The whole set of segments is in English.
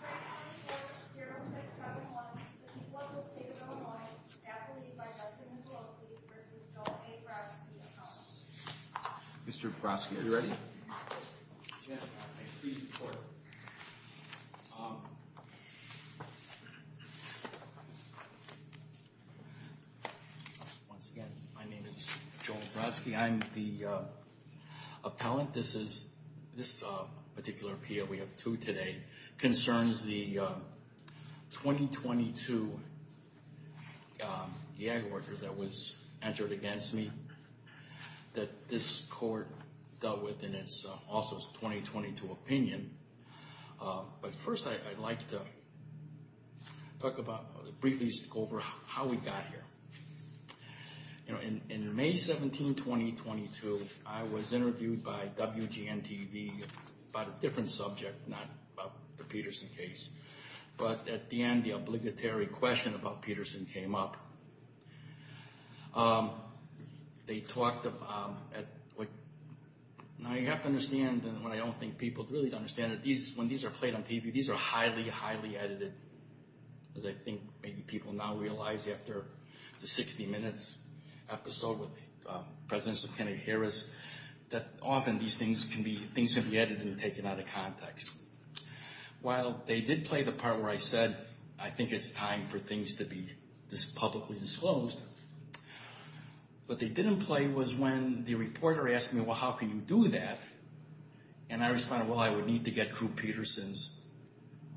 Right now we have 0671, the people of the state of Illinois, after the lead by Justin Pelosi v. Joel A. Brodsky, appellant. Mr. Brodsky, are you ready? Once again, my name is Joel Brodsky. I'm the appellant. This particular appeal, we have two today, concerns the 2022 IAG order that was entered against me that this court dealt with in its also 2022 opinion. But first I'd like to briefly go over how we got here. You know, in May 17, 2022, I was interviewed by WGN-TV about a different subject, not about the Peterson case. But at the end, the obligatory question about Peterson came up. They talked about, now you have to understand, and I don't think people really understand, that when these are played on TV, these are highly, highly edited. As I think maybe people now realize after the 60 Minutes episode with President Kennedy Harris, that often these things can be edited and taken out of context. While they did play the part where I said, I think it's time for things to be publicly disclosed, what they didn't play was when the reporter asked me, well, how can you do that? And I responded, well, I would need to get Drew Peterson's,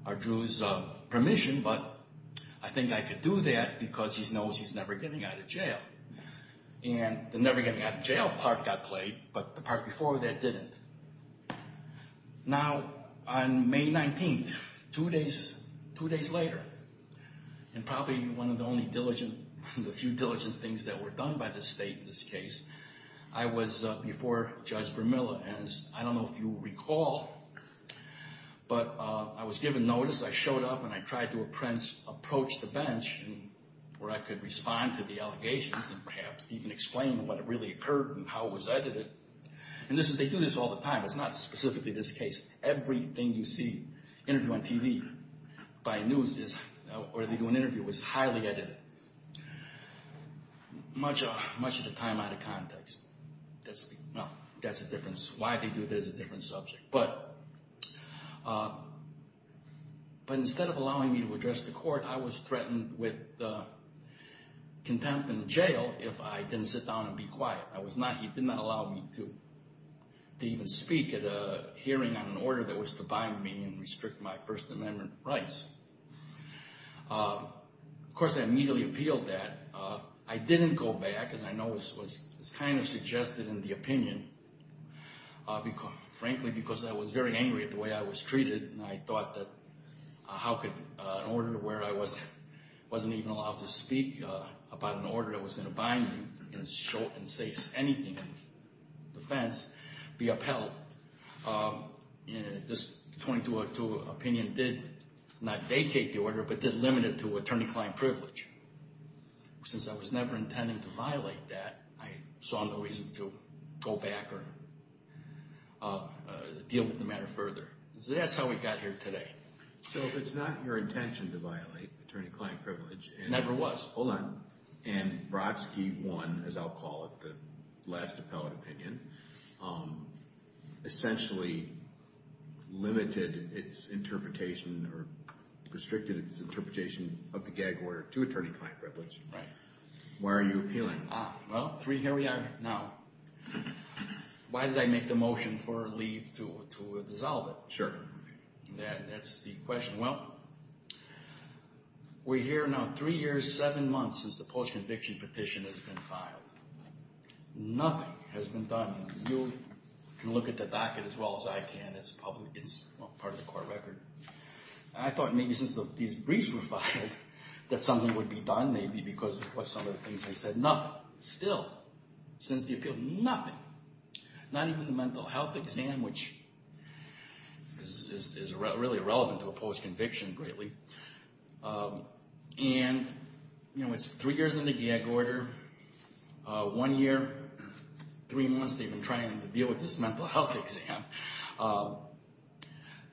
or Drew's permission, but I think I could do that because he knows he's never getting out of jail. And the never getting out of jail part got played, but the part before that didn't. Now, on May 19, two days later, and probably one of the only diligent, the few diligent things that were done by the state in this case, I was before Judge Vermilla, and I don't know if you recall, but I was given notice, I showed up, and I tried to approach the bench where I could respond to the allegations and perhaps even explain what really occurred and how it was edited. And they do this all the time. It's not specifically this case. Everything you see interviewed on TV, by news, or they do an interview, is highly edited. Much of the time out of context. That's the difference. Why they do it is a different subject. But instead of allowing me to address the court, I was threatened with contempt in jail if I didn't sit down and be quiet. He did not allow me to even speak at a hearing on an order that was to bind me and restrict my First Amendment rights. Of course, I immediately appealed that. I didn't go back, as I know was kind of suggested in the opinion, frankly, because I was very angry at the way I was treated, and I thought that how could an order where I wasn't even allowed to speak about an order that was going to bind me and say anything in defense, be upheld? This 22-02 opinion did not vacate the order, but did limit it to attorney-client privilege. Since I was never intending to violate that, I saw no reason to go back or deal with the matter further. So that's how we got here today. So it's not your intention to violate attorney-client privilege? Never was. Hold on. And Brodsky 1, as I'll call it, the last appellate opinion, essentially limited its interpretation or restricted its interpretation of the gag order to attorney-client privilege. Why are you appealing? Well, here we are now. Why did I make the motion for a leave to dissolve it? Sure. That's the question. Well, we're here now three years, seven months since the post-conviction petition has been filed. Nothing has been done. You can look at the docket as well as I can. It's public. It's part of the court record. I thought maybe since these briefs were filed that something would be done maybe because of some of the things I said. Nothing. Still, since the appeal, nothing. Not even the mental health exam, which is really irrelevant to a post-conviction greatly. And it's three years in the gag order. One year, three months they've been trying to deal with this mental health exam.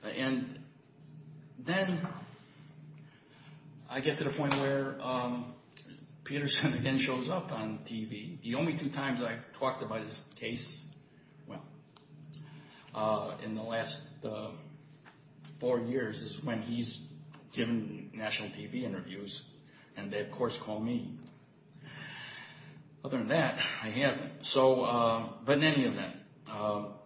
And then I get to the point where Peterson again shows up on TV. The only two times I talked about his case, well, in the last four years is when he's given national TV interviews. And they, of course, call me. Other than that, I haven't. But in any event, all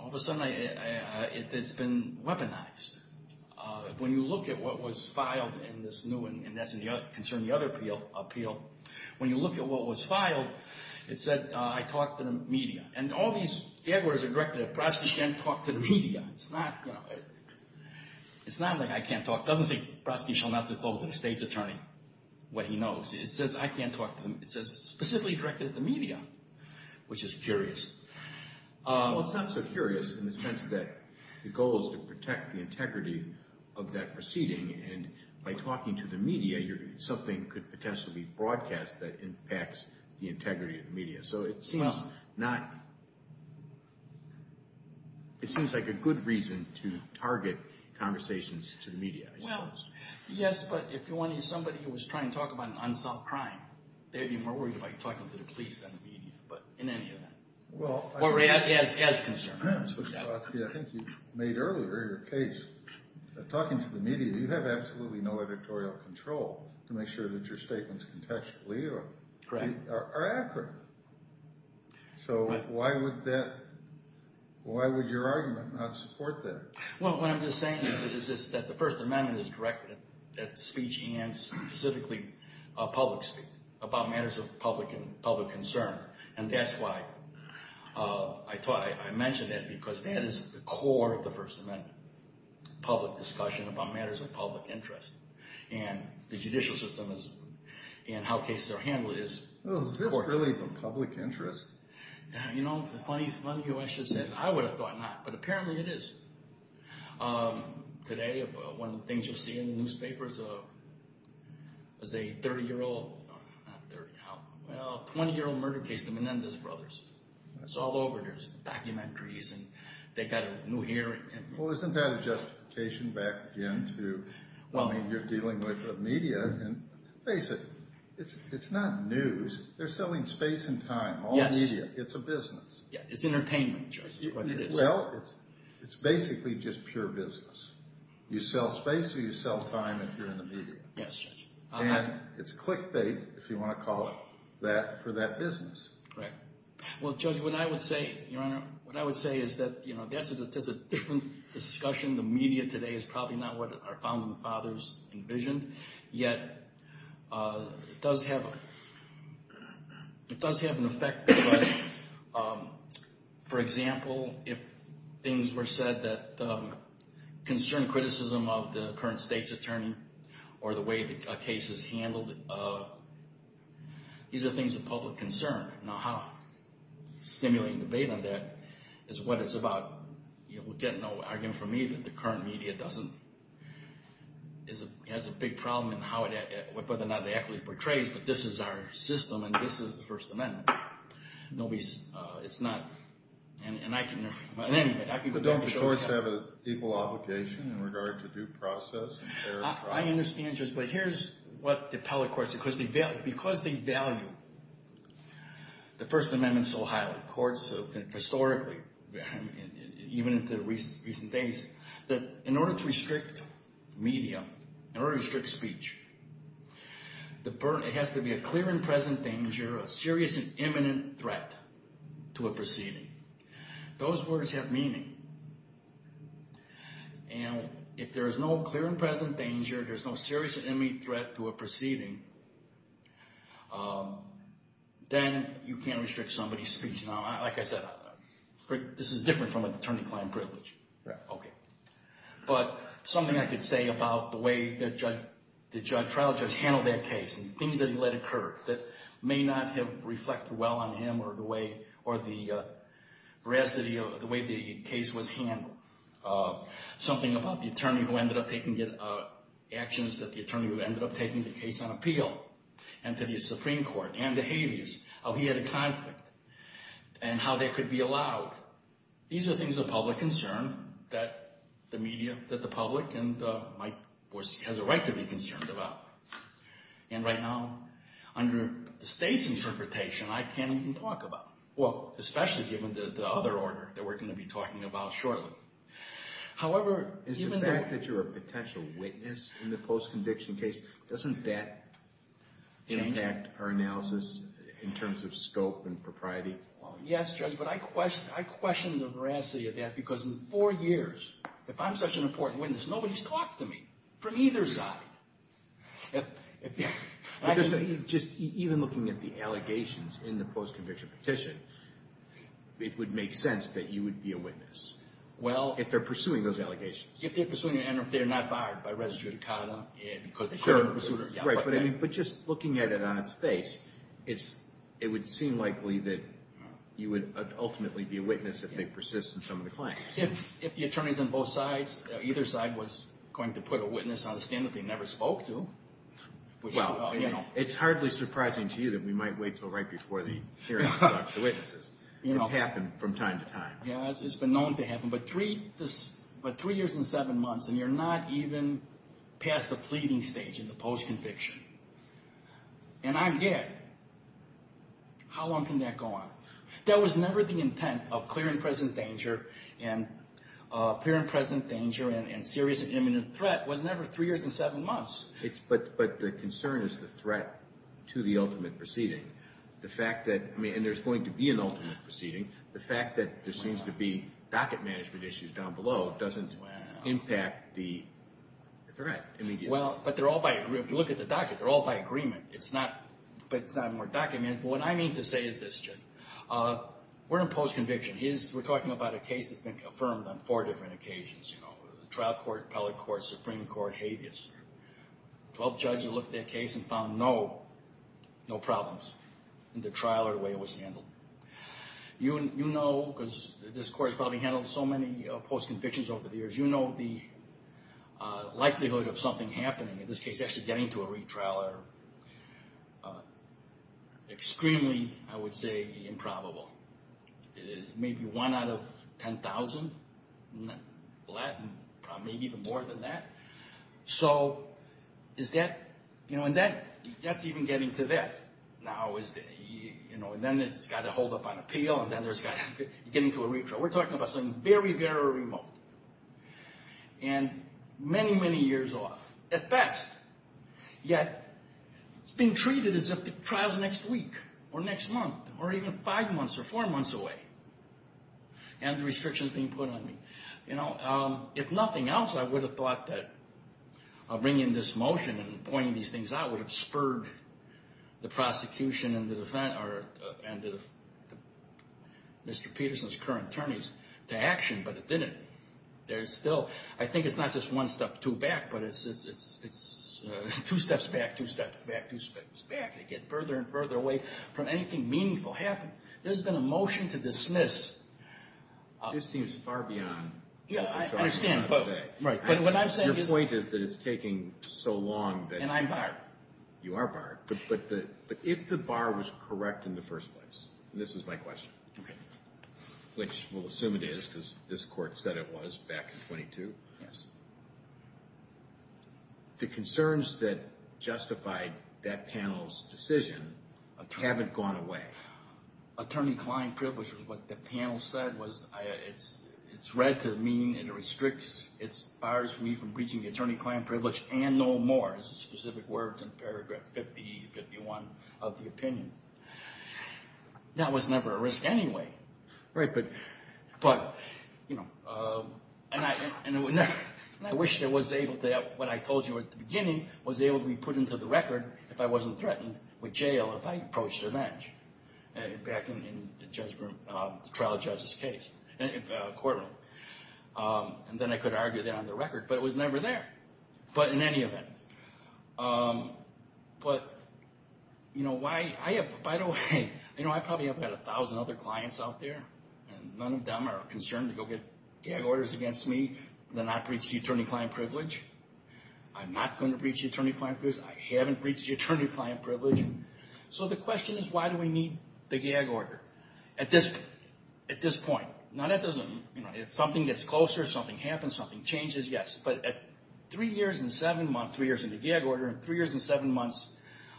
of a sudden it's been weaponized. When you look at what was filed concerning the other appeal, when you look at what was filed, it said, I talked to the media. And all these gag orders are directed at, Brodsky shan't talk to the media. It's not like I can't talk. It doesn't say Brodsky shall not disclose to the state's attorney what he knows. It says I can't talk to them. It says specifically directed at the media, which is curious. Well, it's not so curious in the sense that the goal is to protect the integrity of that proceeding. And by talking to the media, something could potentially be broadcast that impacts the integrity of the media. So it seems like a good reason to target conversations to the media, I suppose. Well, yes, but if you wanted somebody who was trying to talk about an unsolved crime, they'd be more worried about talking to the media. But in any event, as concerns. I think you made earlier your case. Talking to the media, you have absolutely no editorial control to make sure that your statements contextually are accurate. So why would your argument not support that? Well, what I'm just saying is that the First Amendment is directed at speech and specifically public speech about matters of public concern. And that's why I thought I mentioned that, because that is the core of the First Amendment, public discussion about matters of public interest. And the judicial system and how cases are handled is important. Is this really the public interest? You know, funny you actually said that. I would have thought not, but apparently it is. Today, one of the things you'll see in the newspapers is a 30-year-old, well, 20-year-old murder case, the Menendez brothers. It's all over. There's documentaries and they've got a new here. Well, isn't that a justification back again to what you're dealing with the media? And face it, it's not news. They're selling space and time. All media. It's a business. Yeah, it's entertainment. Well, it's basically just pure business. You sell space or you sell time if you're in the media. Yes, Judge. And it's clickbait, if you want to call it that, for that business. Correct. Well, Judge, what I would say, Your Honor, what I would say is that, you know, that's a different discussion. The media today is probably not what our founding fathers envisioned, yet it does have an effect. For example, if things were said that concern criticism of the current state's attorney or the way the case is handled, these are things of public concern. Now, how stimulating debate on that is what it's about. You know, we'll get no argument from me that the current media doesn't, is a, has a big problem in how it, whether or not the equity portrays, but this is our system and this is the First Amendment. Nobody's, it's not, and I can, in any event, I can... But don't the courts have an equal obligation in regard to due process and fair trial? I understand, Judge, but here's what the appellate courts, because they value, the First Amendment so highly, courts have, historically, even in the recent days, that in order to restrict media, in order to restrict speech, it has to be a clear and present danger, a serious and imminent threat to a proceeding. Those words have meaning. And if there is no clear and present danger, there's no serious and imminent threat to a proceeding, then you can't restrict somebody's speech. Now, like I said, this is different from an attorney-client privilege. Right. Okay. But something I could say about the way that Judge, the trial judge handled that case and the things that he let occur that may not have reflected well on him or the way, or the veracity of the way the case was handled. Something about the attorney who ended up taking actions, that the attorney who ended up taking the case on appeal, and to the Supreme Court, and to Hades, how he had a conflict, and how they could be allowed. These are things of public concern that the media, that the public, and my, has a right to be concerned about. And right now, under the state's interpretation, I can't even talk about, well, especially given the other order that we're going to be talking about shortly. However, even though... Is the fact that you're a potential witness in the post-conviction case, doesn't that impact our analysis in terms of scope and propriety? Yes, Judge, but I question the veracity of that because in four years, if I'm such an important witness, nobody's talked to me from either side. Just even looking at the allegations in the post-conviction petition, it would make sense that you would be a witness. Well... If they're pursuing those allegations. If they're pursuing, and if they're not barred by res judicata because they... Right, but just looking at it on its face, it would seem likely that you would ultimately be a witness if they persist in some of the claims. If the attorneys on both sides, either side, was going to put a witness on the stand that they never spoke to, which... Well, it's hardly surprising to you that we might wait until right before the hearing to conduct the witnesses. It's happened from time to time. Yeah, it's been known to happen, but three years and seven months, and you're not even past the pleading stage in the post-conviction, and I'm here. How long can that go on? There was never the intent of clear and present danger, and clear and present danger and serious and imminent threat was never three years and seven months. But the concern is the threat to the ultimate proceeding. The fact that, and there's going to be an ultimate proceeding. The fact that there seems to be docket management issues down below doesn't impact the threat immediacy. Well, but they're all by, if you look at the docket, they're all by agreement. It's not, but it's not more documented. But what I mean to say is this, Jim. We're in post-conviction. We're talking about a case that's been confirmed on four different occasions. You know, trial court, appellate court, supreme court, habeas. Twelve judges looked at that case and found no problems in the trial or the way it was handled. You know, because this court's probably handled so many post-convictions over the years. You know, the likelihood of something happening, in this case, actually getting to a retrial are extremely, I would say, improbable. It is maybe one out of 10,000, in Latin, maybe even more than that. So is that, you know, and that's even getting to that now. Is that, you know, and then it's got to hold up on appeal and then there's got to, getting to a retrial. We're talking about something very, very remote. And many, many years off, at best. Yet, it's being treated as if the trial's next week or next month or even five months or four months away. And the restrictions being put on me. You know, if nothing else, I would have thought that bringing this motion and pointing these things out would have spurred the prosecution and the defense, or Mr. Peterson's current attorneys, to action. But it didn't. There's still, I think it's not just one step too back, but it's two steps back, two steps back, two steps back. They get further and further away from anything meaningful happening. There's been a motion to dismiss. This seems far beyond. Yeah, I understand, but what I'm saying is. Your point is that it's taking so long that. And I'm barred. You are barred. But if the bar was correct in the first place, and this is my question, which we'll assume it is, because this court said it was back in 22, the concerns that justified that panel's decision haven't gone away. Attorney Klein privilege, what the panel said was, it's read to mean it restricts, it bars me from breaching the attorney Klein privilege and no more. It's specific words in paragraph 50, 51 of the opinion. That was never a risk anyway. Right, but, but, you know, and I wish I was able to, what I told you at the beginning, was able to be put into the record if I wasn't threatened with jail if I approached a bench back in the trial judge's case, courtroom. And then I could argue that on the record, but it was never there. But in any event, but, you know, why, I have, by the way, you know, I probably have had 1,000 other clients out there, and none of them are concerned to go get gag orders against me and not breach the attorney Klein privilege. I'm not going to breach the attorney Klein privilege. I haven't breached the attorney Klein privilege. So the question is, why do we need the gag order at this, at this point? Now that doesn't, you know, if something gets closer, something happens, something changes, yes, but at three years and seven months, three years in the gag order and three years and seven months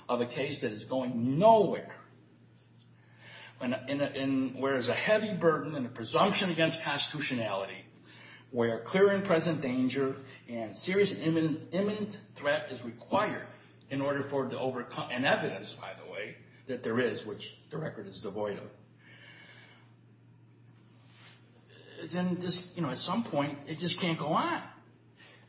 of a case that is going nowhere, and where there's a heavy burden and a presumption against constitutionality, where clear and present danger and serious and imminent threat is required in order for it to overcome, and evidence, by the way, that there is, which the record is devoid of, then this, you know, at some point, it just can't go on.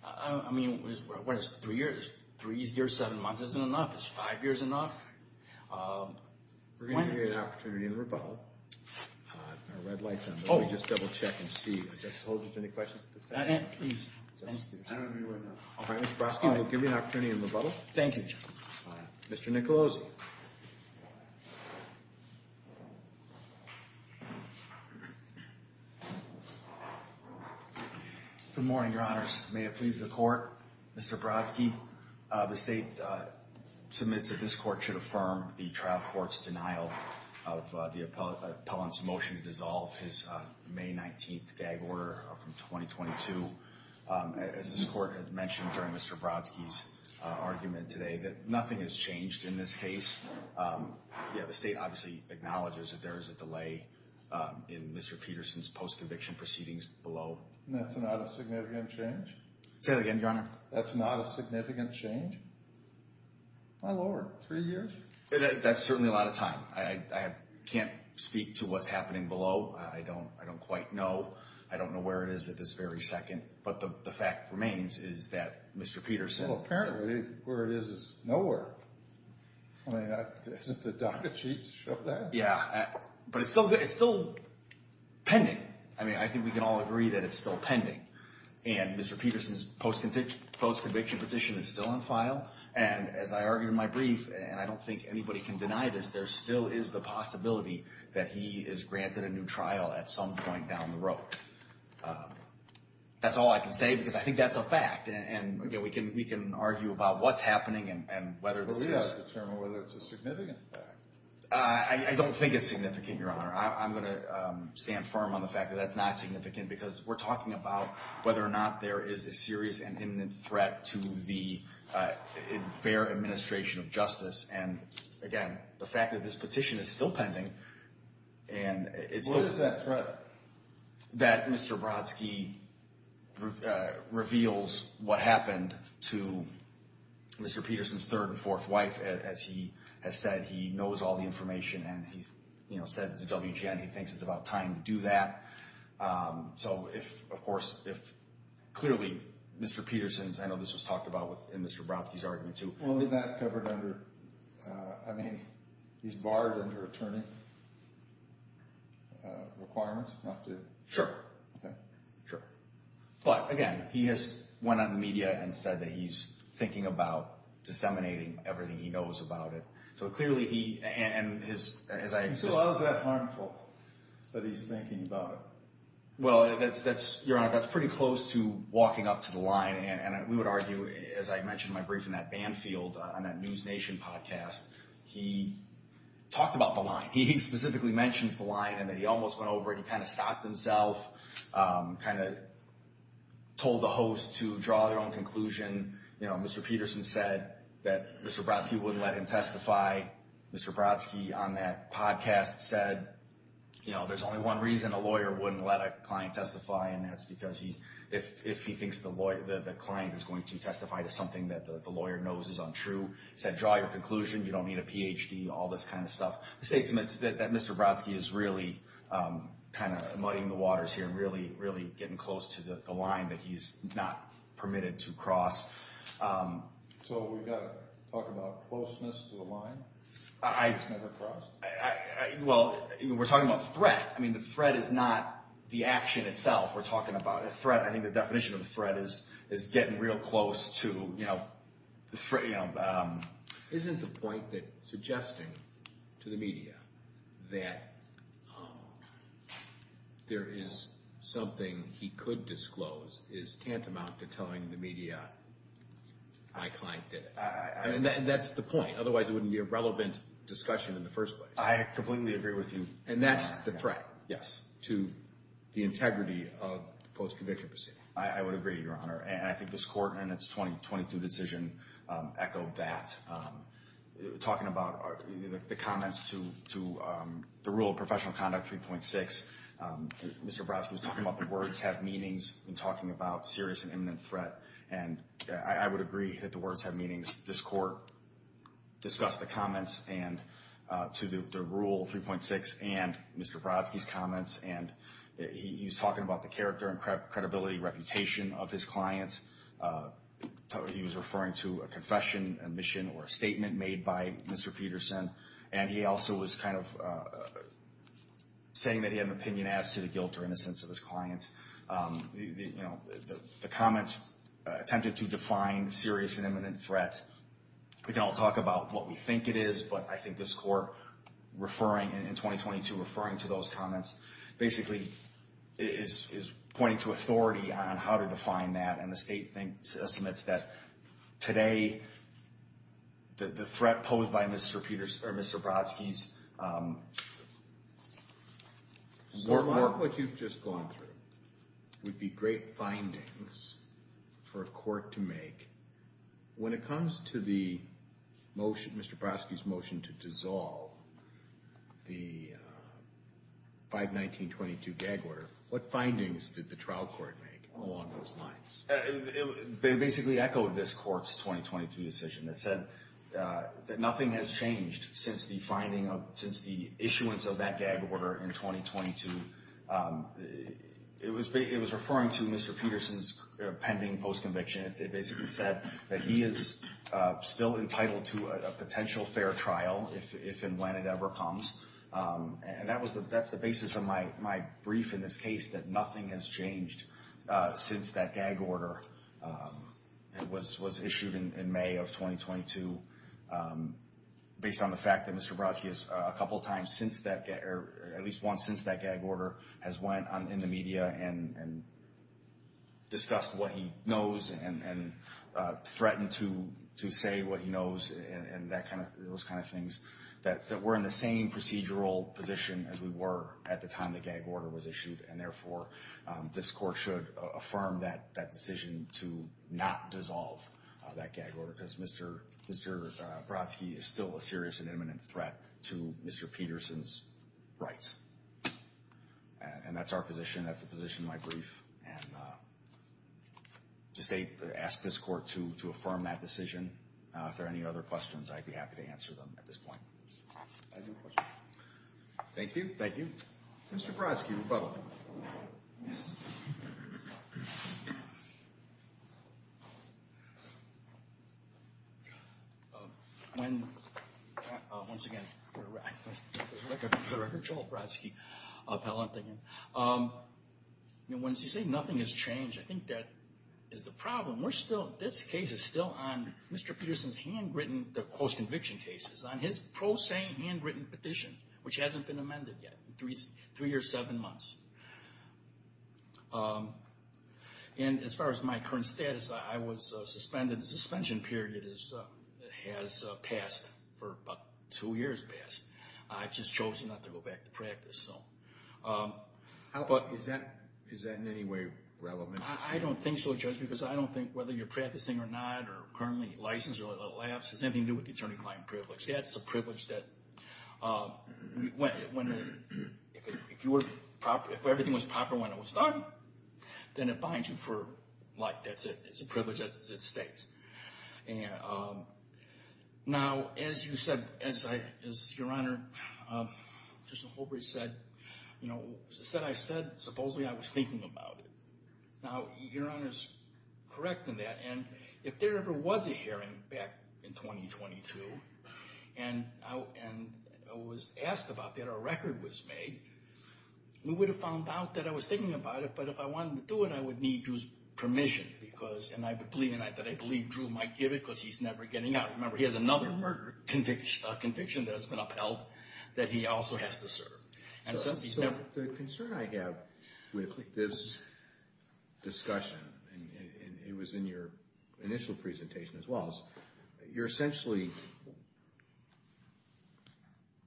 I mean, what is it, three years? Three years, seven months isn't enough. Is five years enough? We're going to give you an opportunity in rebuttal. Our red light's on. Oh. Let me just double check and see. I just told you, any questions at this time? Please. Thank you. I don't know you right now. All right, Mr. Broski, we'll give you an opportunity in rebuttal. Thank you, John. Mr. Nicolosi. Good morning, Your Honors. May it please the Court, Mr. Broski, the State submits that this Court should affirm the trial court's denial of the appellant's motion to dissolve his May 19th gag order from 2022. As this Court had mentioned during Mr. Broski's argument today, that nothing has changed in this case. Yeah, the State obviously acknowledges that there is a delay in Mr. Peterson's post-conviction proceedings below. That's not a significant change? Say that again, Your Honor. That's not a significant change? My Lord, three years? That's certainly a lot of time. I can't speak to what's happening below. I don't quite know. I don't know where it is at this very second. But the fact remains is that Mr. Peterson... Well, apparently, where it is is nowhere. I mean, isn't the docket sheet showing that? Yeah, but it's still pending. I mean, I think we can all agree that it's still pending. And Mr. Peterson's post-conviction petition is still on file. And as I argued in my brief, and I don't think anybody can deny this, there still is the possibility that he is granted a new trial at some point down the road. That's all I can say because I think that's a fact. And again, we can argue about what's happening and whether this is... But we've got to determine whether it's a significant fact. I don't think it's significant, Your Honor. I'm going to stand firm on the fact that that's not significant because we're talking about whether or not there is a serious and imminent threat to the fair administration of justice. And again, the fact that this petition is still pending and it's... What is that threat? That Mr. Brodsky reveals what happened to Mr. Peterson's third and fourth wife. As he has said, he knows all the information and he said to WGN, he thinks it's about time to do that. So if, of course, if clearly Mr. Peterson's... I know this was talked about in Mr. Brodsky's argument too. Was that covered under... I mean, he's barred under attorney requirements not to... Sure. Sure. But again, he has went on the media and said that he's thinking about disseminating everything he knows about it. So clearly he and his, as I... So how is that harmful that he's thinking about it? Well, Your Honor, that's pretty close to walking up to the line and we would argue, as I mentioned in my briefing, that Banfield on that News Nation podcast, he talked about the line. He specifically mentions the line and that he almost went over and he kind of stopped himself, kind of told the host to draw their own conclusion. Mr. Peterson said that Mr. Brodsky wouldn't let him testify. Mr. Brodsky on that podcast said there's only one reason a lawyer wouldn't let a client who's going to testify to something that the lawyer knows is untrue. He said, draw your conclusion. You don't need a PhD, all this kind of stuff. The state admits that Mr. Brodsky is really kind of muddying the waters here and really, really getting close to the line that he's not permitted to cross. So we've got to talk about closeness to the line? He's never crossed. Well, we're talking about threat. I mean, the threat is not the action itself. We're talking about a threat. I think the definition of the threat is getting real close to the frame. Isn't the point that suggesting to the media that there is something he could disclose is tantamount to telling the media my client did it? That's the point. Otherwise, it wouldn't be a relevant discussion in the first place. I completely agree with you. And that's the threat? Yes. To the integrity of the post-conviction proceeding? I would agree, Your Honor. And I think this Court in its 2022 decision echoed that. Talking about the comments to the rule of professional conduct 3.6, Mr. Brodsky was talking about the words have meanings and talking about serious and imminent threat. And I would agree that the words have meanings. This Court discussed the comments and to the rule 3.6 and Mr. Brodsky's comments he was talking about the character and credibility, reputation of his client. He was referring to a confession, admission, or a statement made by Mr. Peterson. And he also was kind of saying that he had an opinion as to the guilt or innocence of his client. The comments attempted to define serious and imminent threat. We can all talk about what we think it is. I think this Court in 2022 referring to those comments basically is pointing to authority on how to define that. And the state estimates that today the threat posed by Mr. Brodsky's... What you've just gone through would be great findings for a court to make. When it comes to the motion, Mr. Brodsky's motion to dissolve the 51922 gag order, what findings did the trial court make along those lines? They basically echoed this Court's 2022 decision that said that nothing has changed since the finding of, since the issuance of that gag order in 2022. It was referring to Mr. Peterson's pending post-conviction. It basically said that he is still entitled to a potential fair trial if and when it ever comes. And that's the basis of my brief in this case, that nothing has changed since that gag order was issued in May of 2022, based on the fact that Mr. Brodsky has, a couple times since that, or at least once since that gag order, has went in the media and discussed what he knows and threatened to say what he knows, those kind of things, that we're in the same procedural position as we were at the time the gag order was issued. And therefore, this Court should affirm that decision to not dissolve that gag order, because Mr. Brodsky is still a serious and imminent threat to Mr. Peterson's rights. And that's our position. That's the position of my brief. And to state, ask this Court to affirm that decision. If there are any other questions, I'd be happy to answer them at this point. Thank you. Thank you. Mr. Brodsky, rebuttal. When, once again, I heard Joel Brodsky appellant again. Once you say nothing has changed, I think that is the problem. We're still, this case is still on Mr. Peterson's handwritten, the post-conviction cases, on his pro se handwritten petition, which hasn't been amended yet, three or seven months. And as far as my current status, I was suspended. The suspension period has passed, for about two years passed. I've just chosen not to go back to practice, so. How about, is that in any way relevant? I don't think so, Judge, because I don't think whether you're practicing or not, or currently licensed, or a lapse, has anything to do with the attorney-client privilege. That's a privilege that, if everything was proper when it was started, then it binds you for life. That's it. It's a privilege that it stays. Now, as you said, as Your Honor, Justice Holbrooke said, you know, said I said, supposedly, I was thinking about it. Now, Your Honor's correct in that, and if there ever was a hearing back in 2022, and I was asked about that, or a record was made, we would have found out that I was thinking about it, but if I wanted to do it, I would need Drew's permission, because, and I believe, and I believe Drew might give it, because he's never getting out. Remember, he has another murder conviction that has been upheld, that he also has to serve. And so, he's never. The concern I have with this discussion, it was in your initial presentation as well, you're essentially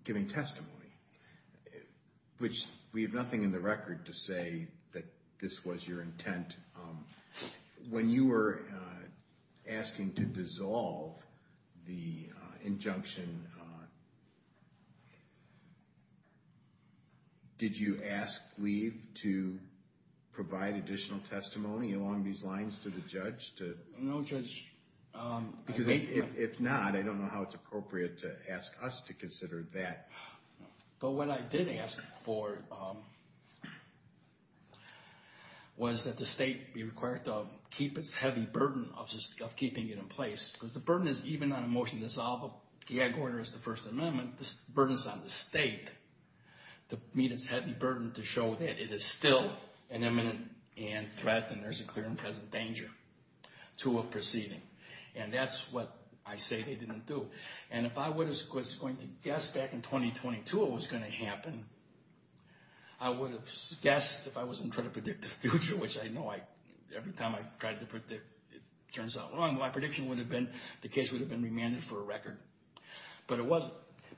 giving testimony, which we have nothing in the record to say that this was your intent. When you were asking to dissolve the injunction, did you ask Gleave to provide additional testimony along these lines to the judge? No, Judge. Because if not, I don't know how it's appropriate to ask us to consider that. But what I did ask for was that the state be required to keep its heavy burden of keeping it in place, because the burden is even on a motion to dissolve, the headquarter is the First Amendment, this burden is on the state to meet its heavy burden, to show that it is still an imminent threat, and there's a clear and present danger. To a proceeding. And that's what I say they didn't do. And if I was going to guess back in 2022 what was going to happen, I would have guessed if I wasn't trying to predict the future, which I know every time I tried to predict, it turns out wrong. My prediction would have been the case would have been remanded for a record. But it wasn't.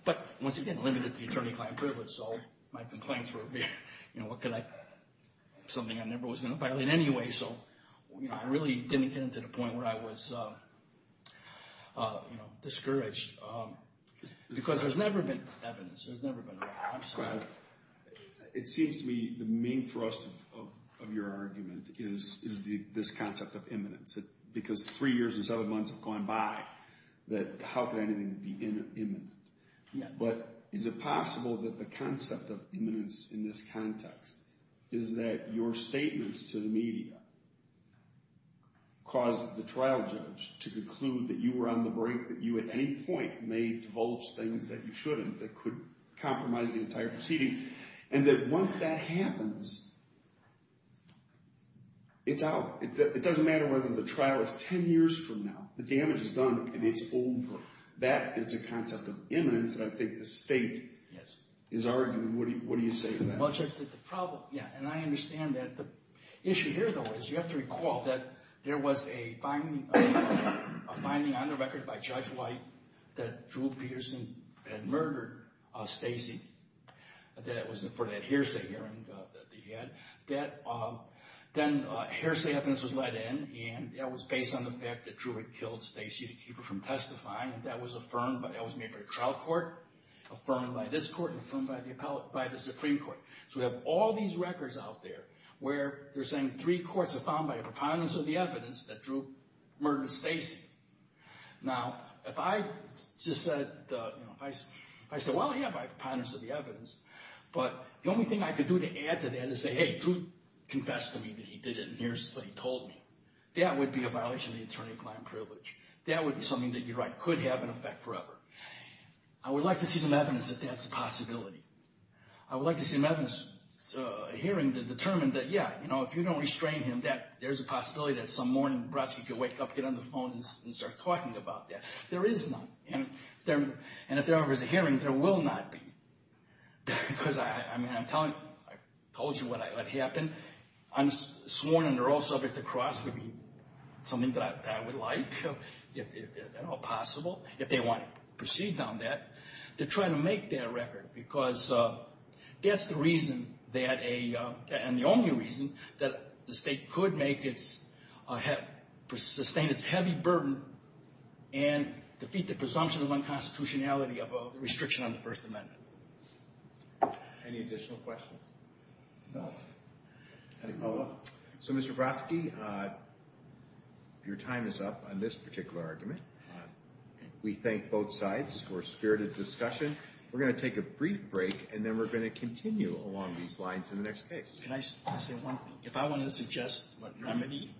But once again, it limited the attorney-client privilege, so my complaints were, something I never was going to violate anyway. So I really didn't get to the point where I was discouraged. Because there's never been evidence. There's never been a record. I'm sorry. It seems to me the main thrust of your argument is this concept of imminence. Because three years and seven months have gone by, that how could anything be imminent? But is it possible that the concept of imminence in this context is that your statements to the media caused the trial judge to conclude that you were on the brink, that you at any point may divulge things that you shouldn't, that could compromise the entire proceeding. And that once that happens, it's out. It doesn't matter whether the trial is 10 years from now. The damage is done and it's over. That is a concept of imminence. I think the state is arguing, what do you say to that? Yeah, and I understand that. The issue here, though, is you have to recall that there was a finding on the record by Judge White that Drew Peterson had murdered Stacey. That was for that hearsay hearing that they had. That then hearsay evidence was let in. And that was based on the fact that Drew had killed Stacey to keep her from testifying. And that was affirmed. But that was made for a trial court, affirmed by this court, affirmed by the Supreme Court. So we have all these records out there where they're saying three courts are found by a preponderance of the evidence that Drew murdered Stacey. Now, if I just said, if I said, well, yeah, by preponderance of the evidence, but the only thing I could do to add to that is say, hey, Drew confessed to me that he did it in hearsay, he told me. That would be a violation of the attorney-client privilege. That would be something that you're right, could have an effect forever. I would like to see some evidence that that's a possibility. I would like to see an evidence hearing to determine that, yeah, if you don't restrain him, that there's a possibility that some morning, Brodsky could wake up, get on the phone, and start talking about that. There is none. And if there ever is a hearing, there will not be. Because I mean, I'm telling you, I told you what happened. I'm sworn under oath subject to cross would be something that I would like, if at all possible, if they want to proceed on that, to try to make that record. Because that's the reason that a, and the only reason that the state could make its, sustain its heavy burden and defeat the presumption of unconstitutionality of a restriction on the First Amendment. Any additional questions? No. Any follow-up? So Mr. Brodsky, your time is up on this particular argument. We thank both sides for a spirited discussion. We're going to take a brief break, and then we're going to continue along these lines in the next case. Can I say one thing? If I want to suggest a remedy.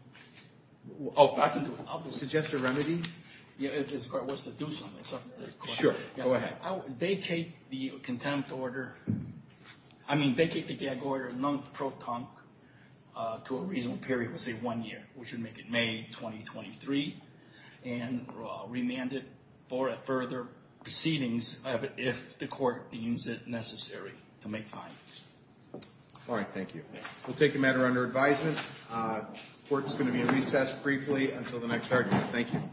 Oh, I can do it. I'll do it. Suggest a remedy? Yeah, if it was to do something, something to the question. Sure, go ahead. Vacate the contempt order. I mean, vacate the gag order non-proton to a reasonable period, let's say one year, which would make it May 2023. And remand it for a further proceedings, if the court deems it necessary to make findings. All right, thank you. We'll take the matter under advisement. Court's going to be in recess briefly until the next argument. Thank you.